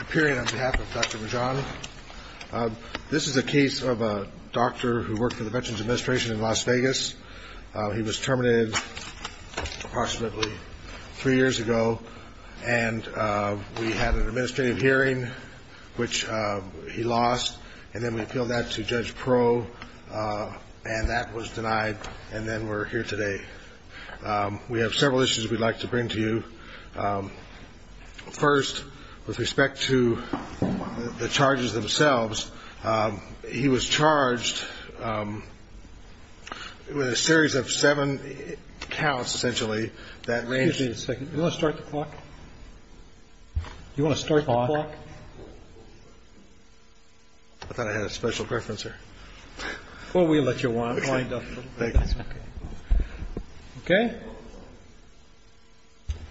Appearing on behalf of Dr. Rajan, this is a case of a doctor who worked for the Veterans Administration in Las Vegas. He was terminated approximately three years ago, and we had an administrative hearing, which he lost, and then we appealed that to Judge Pro, and that was denied, and then we're here today. We have several issues we'd like to bring to you. First, with respect to the charges themselves, he was charged with a series of seven counts, essentially, that range from Excuse me a second. Do you want to start the clock? Do you want to start the clock? I thought I had a special preference here. Well, we'll let you wind up a little bit. Thank you. Okay.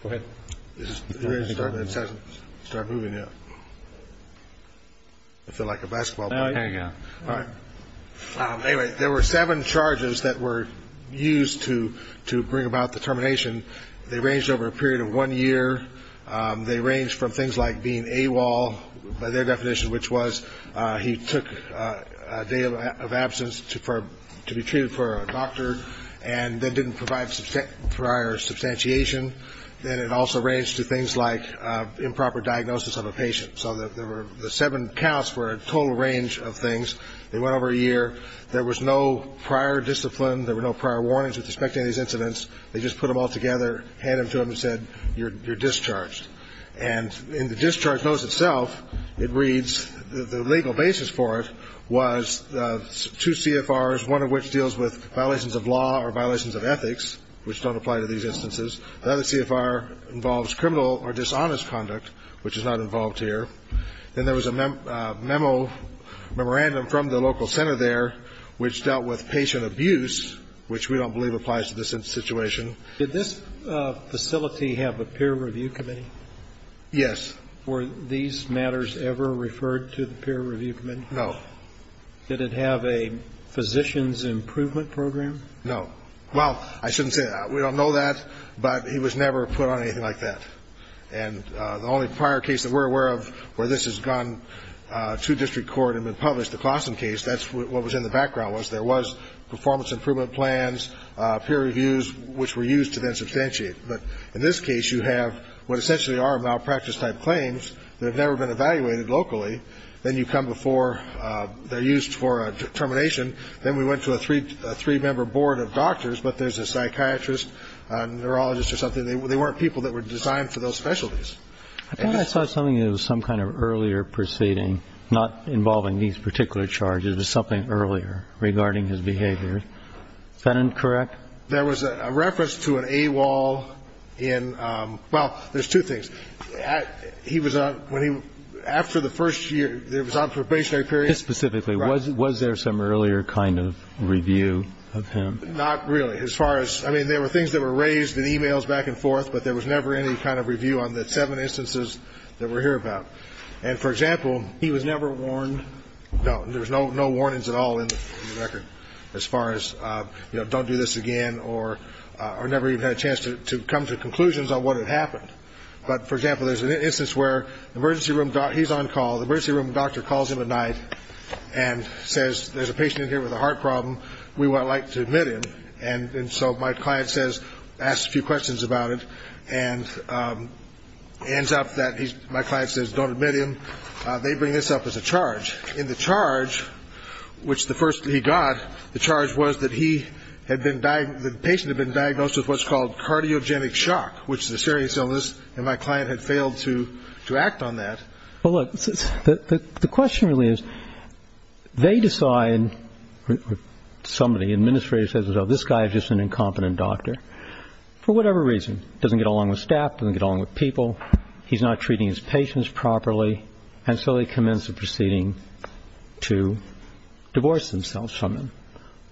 Go ahead. Start moving, yeah. I feel like a basketball player. Anyway, there were seven charges that were used to bring about the termination. They ranged over a period of one year. They ranged from things like being AWOL, by their definition, which was he took a day of absence to be treated for a doctor and then didn't provide prior substantiation. Then it also ranged to things like improper diagnosis of a patient. So the seven counts were a total range of things. They went over a year. There was no prior discipline. There were no prior warnings with respect to any of these incidents. They just put them all together, handed them to him and said, you're discharged. And in the discharge notice itself, it reads the legal basis for it was two CFRs, one of which deals with violations of law or violations of ethics, which don't apply to these instances. Another CFR involves criminal or dishonest conduct, which is not involved here. Then there was a memo, memorandum from the local center there, which dealt with patient abuse, which we don't believe applies to this situation. Did this facility have a peer review committee? Yes. Were these matters ever referred to the peer review committee? No. Did it have a physician's improvement program? No. Well, I shouldn't say that. We don't know that, but he was never put on anything like that. And the only prior case that we're aware of where this has gone to district court and been published, the Claussen case, that's what was in the background was there was performance improvement plans, peer reviews, which were used to then substantiate. But in this case, you have what essentially are malpractice-type claims that have never been evaluated locally. Then you come before they're used for a termination. Then we went to a three-member board of doctors, but there's a psychiatrist, a neurologist or something. They weren't people that were designed for those specialties. I thought I saw something that was some kind of earlier proceeding, not involving these particular charges, but something earlier regarding his behavior. Is that incorrect? There was a reference to an AWOL in ñ well, there's two things. He was on ñ when he ñ after the first year, he was on probationary period. Specifically, was there some earlier kind of review of him? Not really. As far as ñ I mean, there were things that were raised in e-mails back and forth, but there was never any kind of review on the seven instances that we're here about. And, for example, he was never warned. No. There was no warnings at all in the record as far as, you know, don't do this again or never even had a chance to come to conclusions on what had happened. But, for example, there's an instance where the emergency room ñ he's on call. The emergency room doctor calls him at night and says there's a patient in here with a heart problem. We would like to admit him. And so my client says ñ asks a few questions about it and ends up that he's ñ my client says don't admit him. They bring this up as a charge. In the charge, which the first he got, the charge was that he had been ñ the patient had been diagnosed with what's called cardiogenic shock, which is a serious illness, and my client had failed to act on that. Well, look, the question really is they decide ñ somebody, administrator, says, well, this guy is just an incompetent doctor, for whatever reason. Doesn't get along with staff, doesn't get along with people. He's not treating his patients properly. And so they commence the proceeding to divorce themselves from him.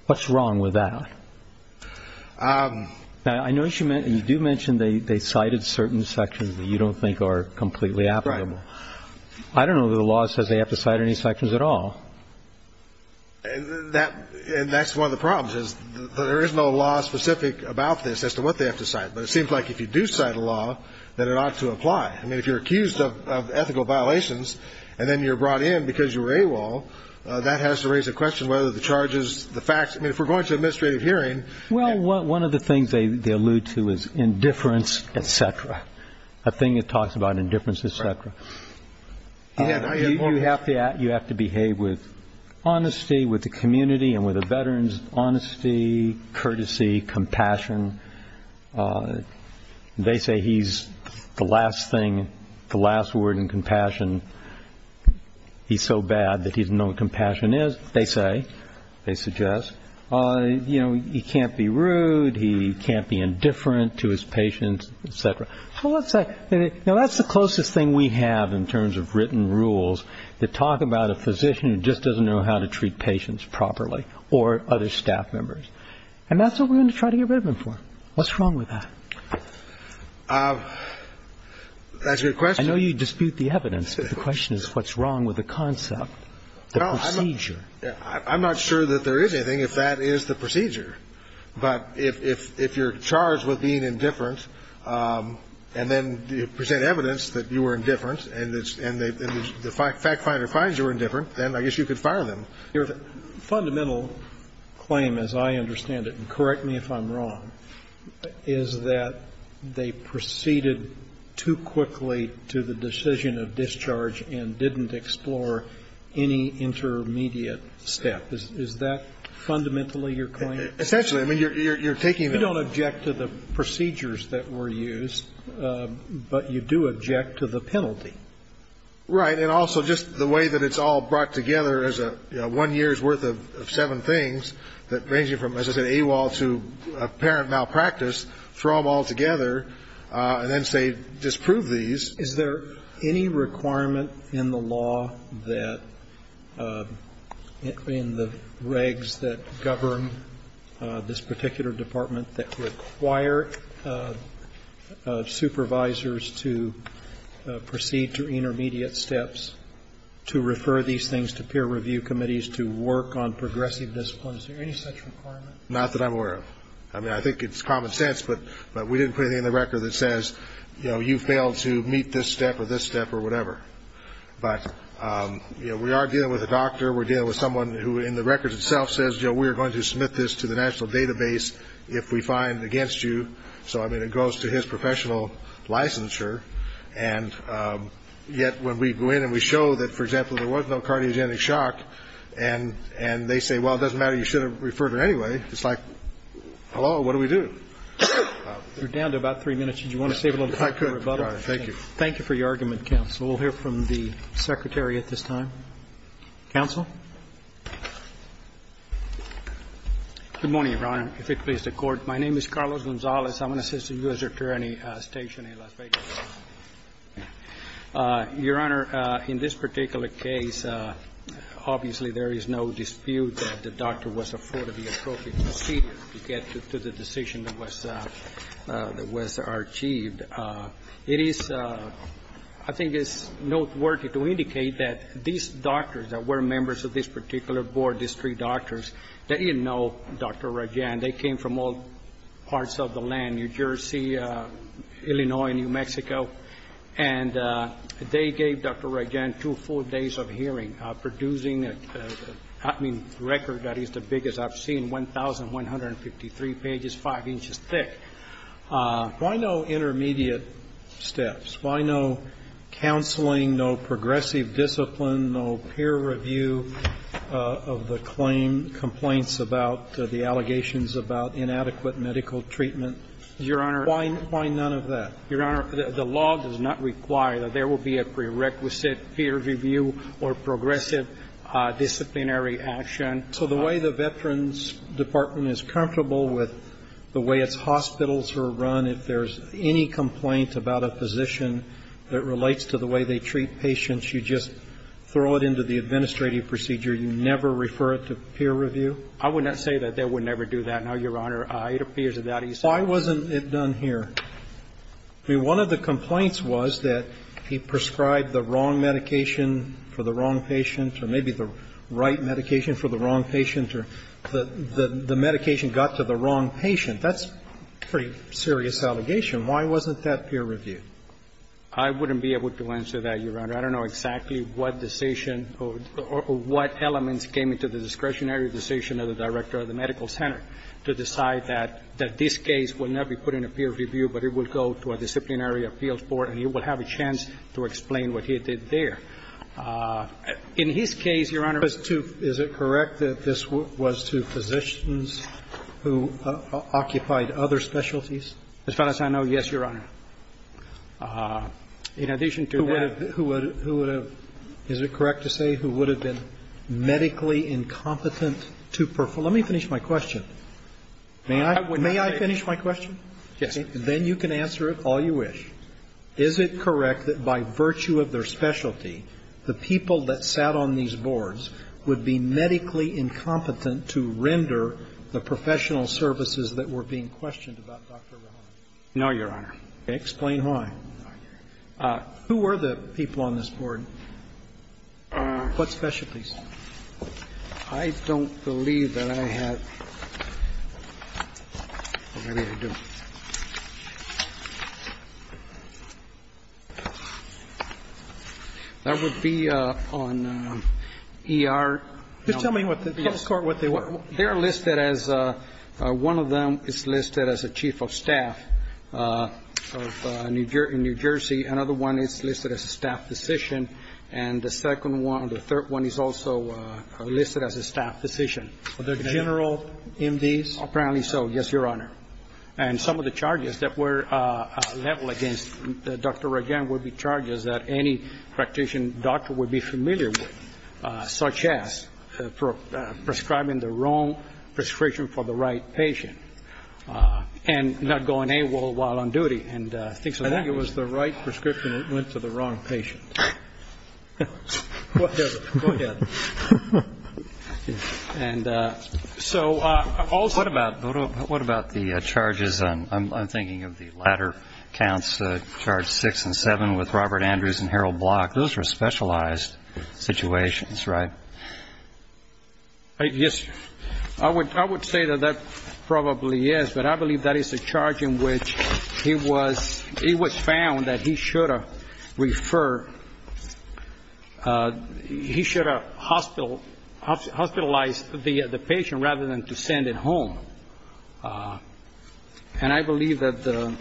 What's wrong with that? I notice you do mention they cited certain sections that you don't think are completely applicable. Right. I don't know that the law says they have to cite any sections at all. And that's one of the problems is there is no law specific about this as to what they have to cite. But it seems like if you do cite a law that it ought to apply. I mean, if you're accused of ethical violations and then you're brought in because you were AWOL, that has to raise the question whether the charges, the facts ñ I mean, if we're going to an administrative hearing ñ Well, one of the things they allude to is indifference, et cetera, a thing that talks about indifference, et cetera. You have to behave with honesty, with the community, and with the veterans, honesty, courtesy, compassion. They say he's the last thing, the last word in compassion. He's so bad that he doesn't know what compassion is, they say, they suggest. You know, he can't be rude. He can't be indifferent to his patients, et cetera. So let's say, you know, that's the closest thing we have in terms of written rules that talk about a physician who just doesn't know how to treat patients properly or other staff members. And that's what we're going to try to get rid of him for. What's wrong with that? That's a good question. I know you dispute the evidence, but the question is what's wrong with the concept, the procedure? I'm not sure that there is anything if that is the procedure. But if you're charged with being indifferent and then you present evidence that you were indifferent and the fact finder finds you were indifferent, then I guess you could fire them. Your fundamental claim, as I understand it, and correct me if I'm wrong, is that they proceeded too quickly to the decision of discharge and didn't explore any intermediate step. Is that fundamentally your claim? Essentially. I mean, you're taking that on. You don't object to the procedures that were used, but you do object to the penalty. Right. And also just the way that it's all brought together as a one year's worth of seven things that range from, as I said, AWOL to apparent malpractice, throw them all together and then say disprove these. Is there any requirement in the law that in the regs that govern this particular department that require supervisors to proceed to intermediate steps to refer these things to peer review committees to work on progressive discipline? Is there any such requirement? Not that I'm aware of. I mean, I think it's common sense, but we didn't put anything in the record that says, you know, you failed to meet this step or this step or whatever. But, you know, we are dealing with a doctor. We're dealing with someone who in the records itself says, you know, we're going to submit this to the national database if we find against you. So, I mean, it goes to his professional licensure. And yet when we go in and we show that, for example, there was no cardiogenic shock, and they say, well, it doesn't matter, you should have referred it anyway. It's like, hello, what do we do? You're down to about three minutes. Did you want to save a little time for rebuttal? Thank you. Thank you for your argument, counsel. We'll hear from the secretary at this time. Counsel. Good morning, Your Honor. If it pleases the Court, my name is Carlos Gonzalez. I'm an assistant U.S. attorney stationed in Las Vegas. Your Honor, in this particular case, obviously there is no dispute that the doctor was afforded the appropriate procedure to get to the decision that was achieved. It is, I think it's noteworthy to indicate that these doctors that were members of this particular board, these three doctors, they didn't know Dr. Rajan. They came from all parts of the land, New Jersey, Illinois, and New Mexico. And they gave Dr. Rajan two full days of hearing, producing a record that is the biggest I've seen, 1,153 pages, five inches thick. Why no intermediate steps? Why no counseling, no progressive discipline, no peer review of the claim, complaints about the allegations about inadequate medical treatment? Your Honor. Why none of that? Your Honor, the law does not require that there will be a prerequisite peer review or progressive disciplinary action. So the way the Veterans Department is comfortable with the way its hospitals are run, if there's any complaint about a physician that relates to the way they treat patients, you just throw it into the administrative procedure? You never refer it to peer review? I would not say that. They would never do that. No, Your Honor. It appears that that is not the case. Why wasn't it done here? I mean, one of the complaints was that he prescribed the wrong medication for the wrong patient, or maybe the right medication for the wrong patient, or the medication got to the wrong patient. That's a pretty serious allegation. Why wasn't that peer reviewed? I wouldn't be able to answer that, Your Honor. I don't know exactly what decision or what elements came into the discretionary decision of the director of the medical center to decide that this case will not be put in a peer review, but it will go to a disciplinary appeals board and he will have a chance to explain what he did there. In his case, Your Honor. Is it correct that this was to physicians who occupied other specialties? As far as I know, yes, Your Honor. In addition to that. Who would have – who would have – is it correct to say who would have been medically incompetent to perform – let me finish my question. May I finish my question? Yes, sir. Then you can answer it all you wish. Is it correct that by virtue of their specialty, the people that sat on these boards would be medically incompetent to render the professional services that were being questioned about Dr. Rehan? No, Your Honor. Explain why. Who were the people on this board? What specialties? I don't believe that I have. Maybe I do. That would be on ER. Just tell me what the court, what they were. They are listed as – one of them is listed as a chief of staff of New Jersey. Another one is listed as a staff physician. And the second one, the third one is also listed as a staff physician. Were there general MDs? Apparently so, yes, Your Honor. And some of the charges that were leveled against Dr. Rehan would be charges that any practitioner doctor would be familiar with, such as prescribing the wrong prescription for the right patient and not going AWOL while on duty and things of that nature. I think it was the right prescription that went to the wrong patient. Whatever. Go ahead. And so also – What about the charges on – I'm thinking of the latter counts, charge 6 and 7 with Robert Andrews and Harold Block. Those were specialized situations, right? Yes. I would say that that probably is, but I believe that is a charge in which he was – he should have hospitalized the patient rather than to send it home. And I believe that the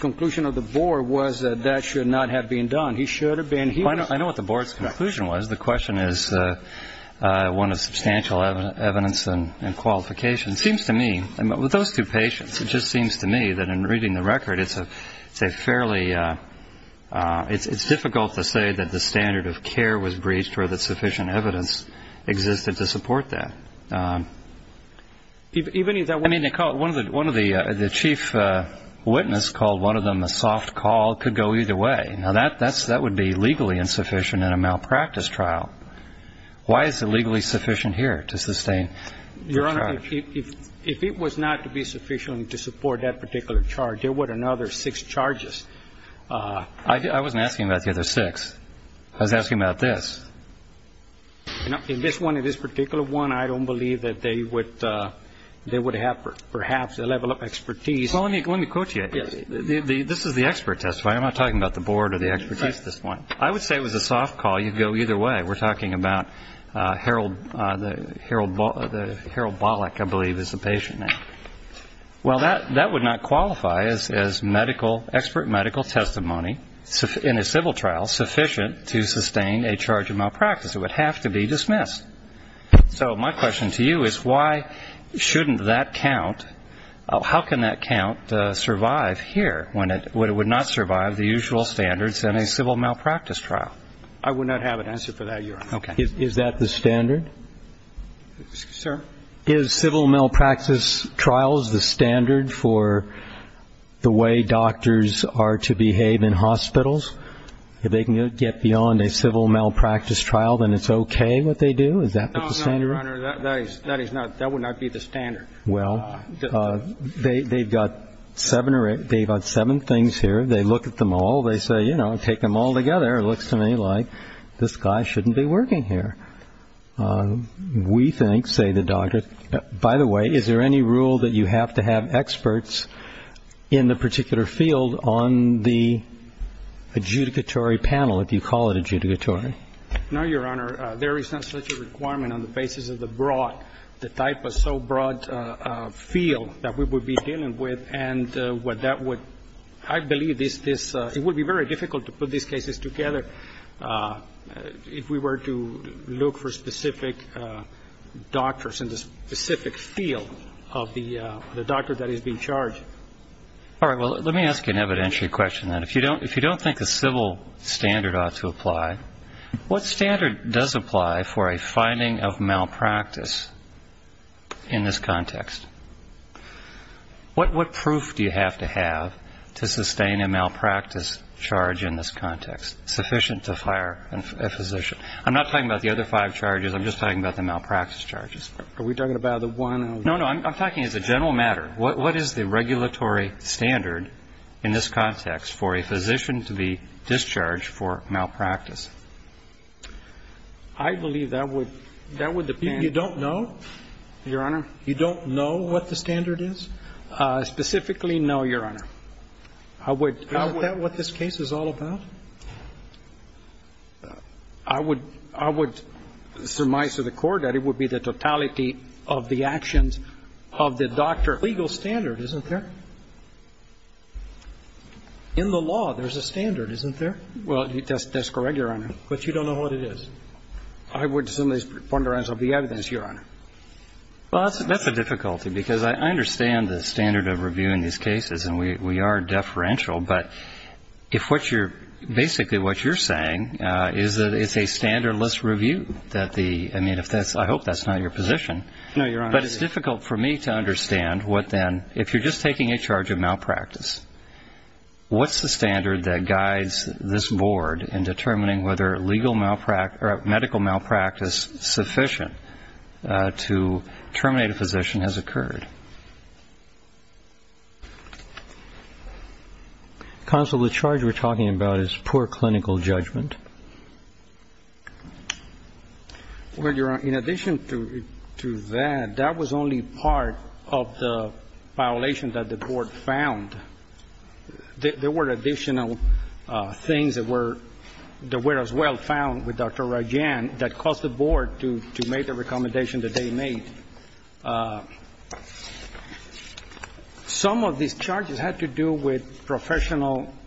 conclusion of the board was that that should not have been done. He should have been – I know what the board's conclusion was. The question is one of substantial evidence and qualification. It seems to me, with those two patients, it just seems to me that in reading the record, it's a fairly – it's difficult to say that the standard of care was breached or that sufficient evidence existed to support that. Even if that – I mean, one of the chief witnesses called one of them a soft call, could go either way. Now, that would be legally insufficient in a malpractice trial. Why is it legally sufficient here to sustain the charge? Your Honor, if it was not to be sufficient to support that particular charge, there were another six charges. I wasn't asking about the other six. I was asking about this. In this one, in this particular one, I don't believe that they would have perhaps a level of expertise. Well, let me quote you. This is the expert testifying. I'm not talking about the board or the expertise at this point. I would say it was a soft call. You could go either way. We're talking about Harold Bollack, I believe, is the patient name. Well, that would not qualify as medical – expert medical testimony in a civil trial sufficient to sustain a charge of malpractice. It would have to be dismissed. So my question to you is why shouldn't that count? How can that count survive here when it would not survive the usual standards in a civil malpractice trial? I would not have an answer for that, Your Honor. Okay. Is that the standard? Sir? Is civil malpractice trials the standard for the way doctors are to behave in hospitals? If they can get beyond a civil malpractice trial, then it's okay what they do? Is that the standard? No, Your Honor. That is not – that would not be the standard. Well, they've got seven things here. They look at them all. They say, you know, take them all together. It looks to me like this guy shouldn't be working here. We think, say the doctors – by the way, is there any rule that you have to have experts in the particular field on the adjudicatory panel, if you call it adjudicatory? No, Your Honor. There is not such a requirement on the basis of the broad – the type of so broad field that we would be dealing with. And what that would – I believe this – it would be very difficult to put these cases together if we were to look for specific doctors in the specific field of the doctor that is being charged. All right. Well, let me ask you an evidentiary question, then. If you don't think a civil standard ought to apply, what standard does apply for a finding of malpractice in this context? What proof do you have to have to sustain a malpractice charge in this context sufficient to fire a physician? I'm not talking about the other five charges. I'm just talking about the malpractice charges. Are we talking about the one? No, no. I'm talking as a general matter. What is the regulatory standard in this context for a physician to be discharged for malpractice? I believe that would – that would depend. You don't know? Your Honor? You don't know what the standard is? Specifically, no, Your Honor. I would – I would – Isn't that what this case is all about? I would – I would surmise to the Court that it would be the totality of the actions of the doctor. There's a legal standard, isn't there? In the law, there's a standard, isn't there? Well, that's correct, Your Honor. But you don't know what it is? I would assume it's a preponderance of the evidence, Your Honor. Well, that's a difficulty because I understand the standard of review in these cases, and we are deferential. But if what you're – basically what you're saying is that it's a standardless review that the – I mean, if that's – I hope that's not your position. No, Your Honor. But it's difficult for me to understand what then – if you're just taking a charge of malpractice, what's the standard that guides this Board in determining whether legal malpractice – or medical malpractice sufficient to terminate a physician has occurred? Counsel, the charge we're talking about is poor clinical judgment. Well, Your Honor, in addition to that, that was only part of the violation that the Board found. There were additional things that were – that were as well found with Dr. Rajan that caused the Board to make the recommendation that they made. Some of these charges had to do with professional –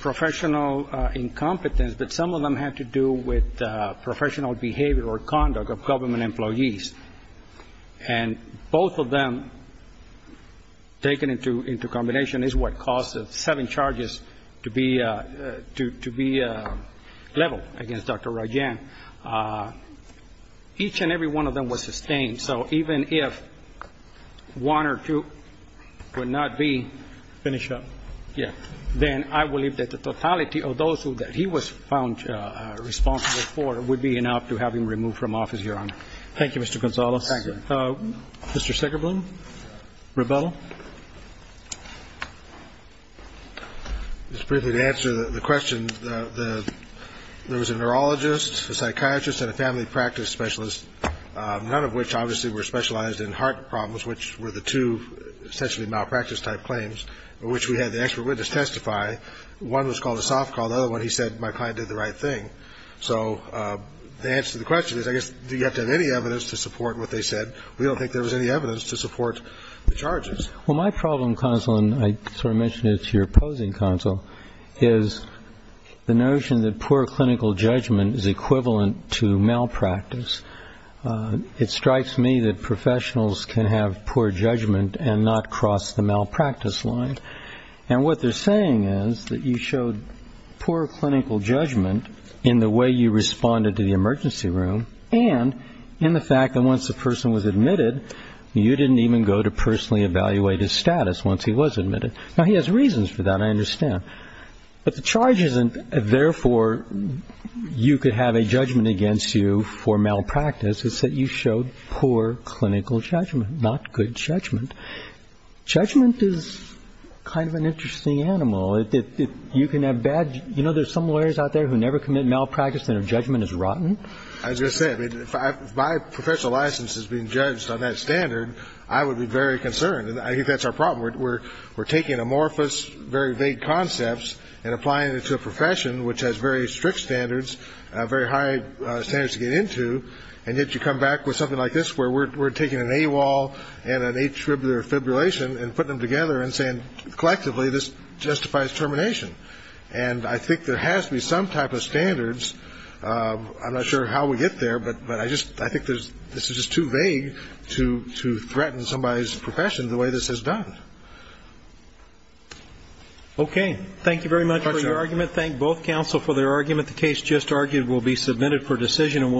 professional incompetence, but some of them had to do with professional behavior or conduct of government employees. And both of them taken into – into combination is what caused the seven charges to be – to be leveled against Dr. Rajan. Each and every one of them was sustained. So even if one or two would not be finished up, then I believe that the totality of those who – that he was found responsible for would be enough to have him removed from office, Your Honor. Thank you, Mr. Gonzales. Thank you. Mr. Sigurblom, rebuttal. Just briefly to answer the question, the – there was a neurologist, a psychiatrist, and a family practice specialist, none of which obviously were specialized in heart problems, which were the two essentially malpractice-type claims, which we had the expert witness testify. One was called a soft call. The other one he said, my client did the right thing. So the answer to the question is, I guess, do you have to have any evidence to support what they said? We don't think there was any evidence to support the charges. Well, my problem, counsel, and I sort of mentioned it to your opposing counsel, is the notion that poor clinical judgment is equivalent to malpractice. It strikes me that professionals can have poor judgment and not cross the malpractice line. And what they're saying is that you showed poor clinical judgment in the way you responded to the emergency room and in the fact that once the person was admitted, you didn't even go to personally evaluate his status once he was admitted. Now, he has reasons for that, I understand. But the charge isn't, therefore, you could have a judgment against you for malpractice. It's that you showed poor clinical judgment, not good judgment. Judgment is kind of an interesting animal. You can have bad – you know there's some lawyers out there who never commit malpractice and their judgment is rotten? As I said, if my professional license is being judged on that standard, I would be very concerned. I think that's our problem. We're taking amorphous, very vague concepts and applying it to a profession which has very strict standards, very high standards to get into, and yet you come back with something like this where we're taking an AWOL and an atributor fibrillation and putting them together and saying collectively this justifies termination. I'm not sure how we get there, but I think this is just too vague to threaten somebody's profession the way this has done. Okay. Thank you very much for your argument. Thank both counsel for their argument. The case just argued will be submitted for decision.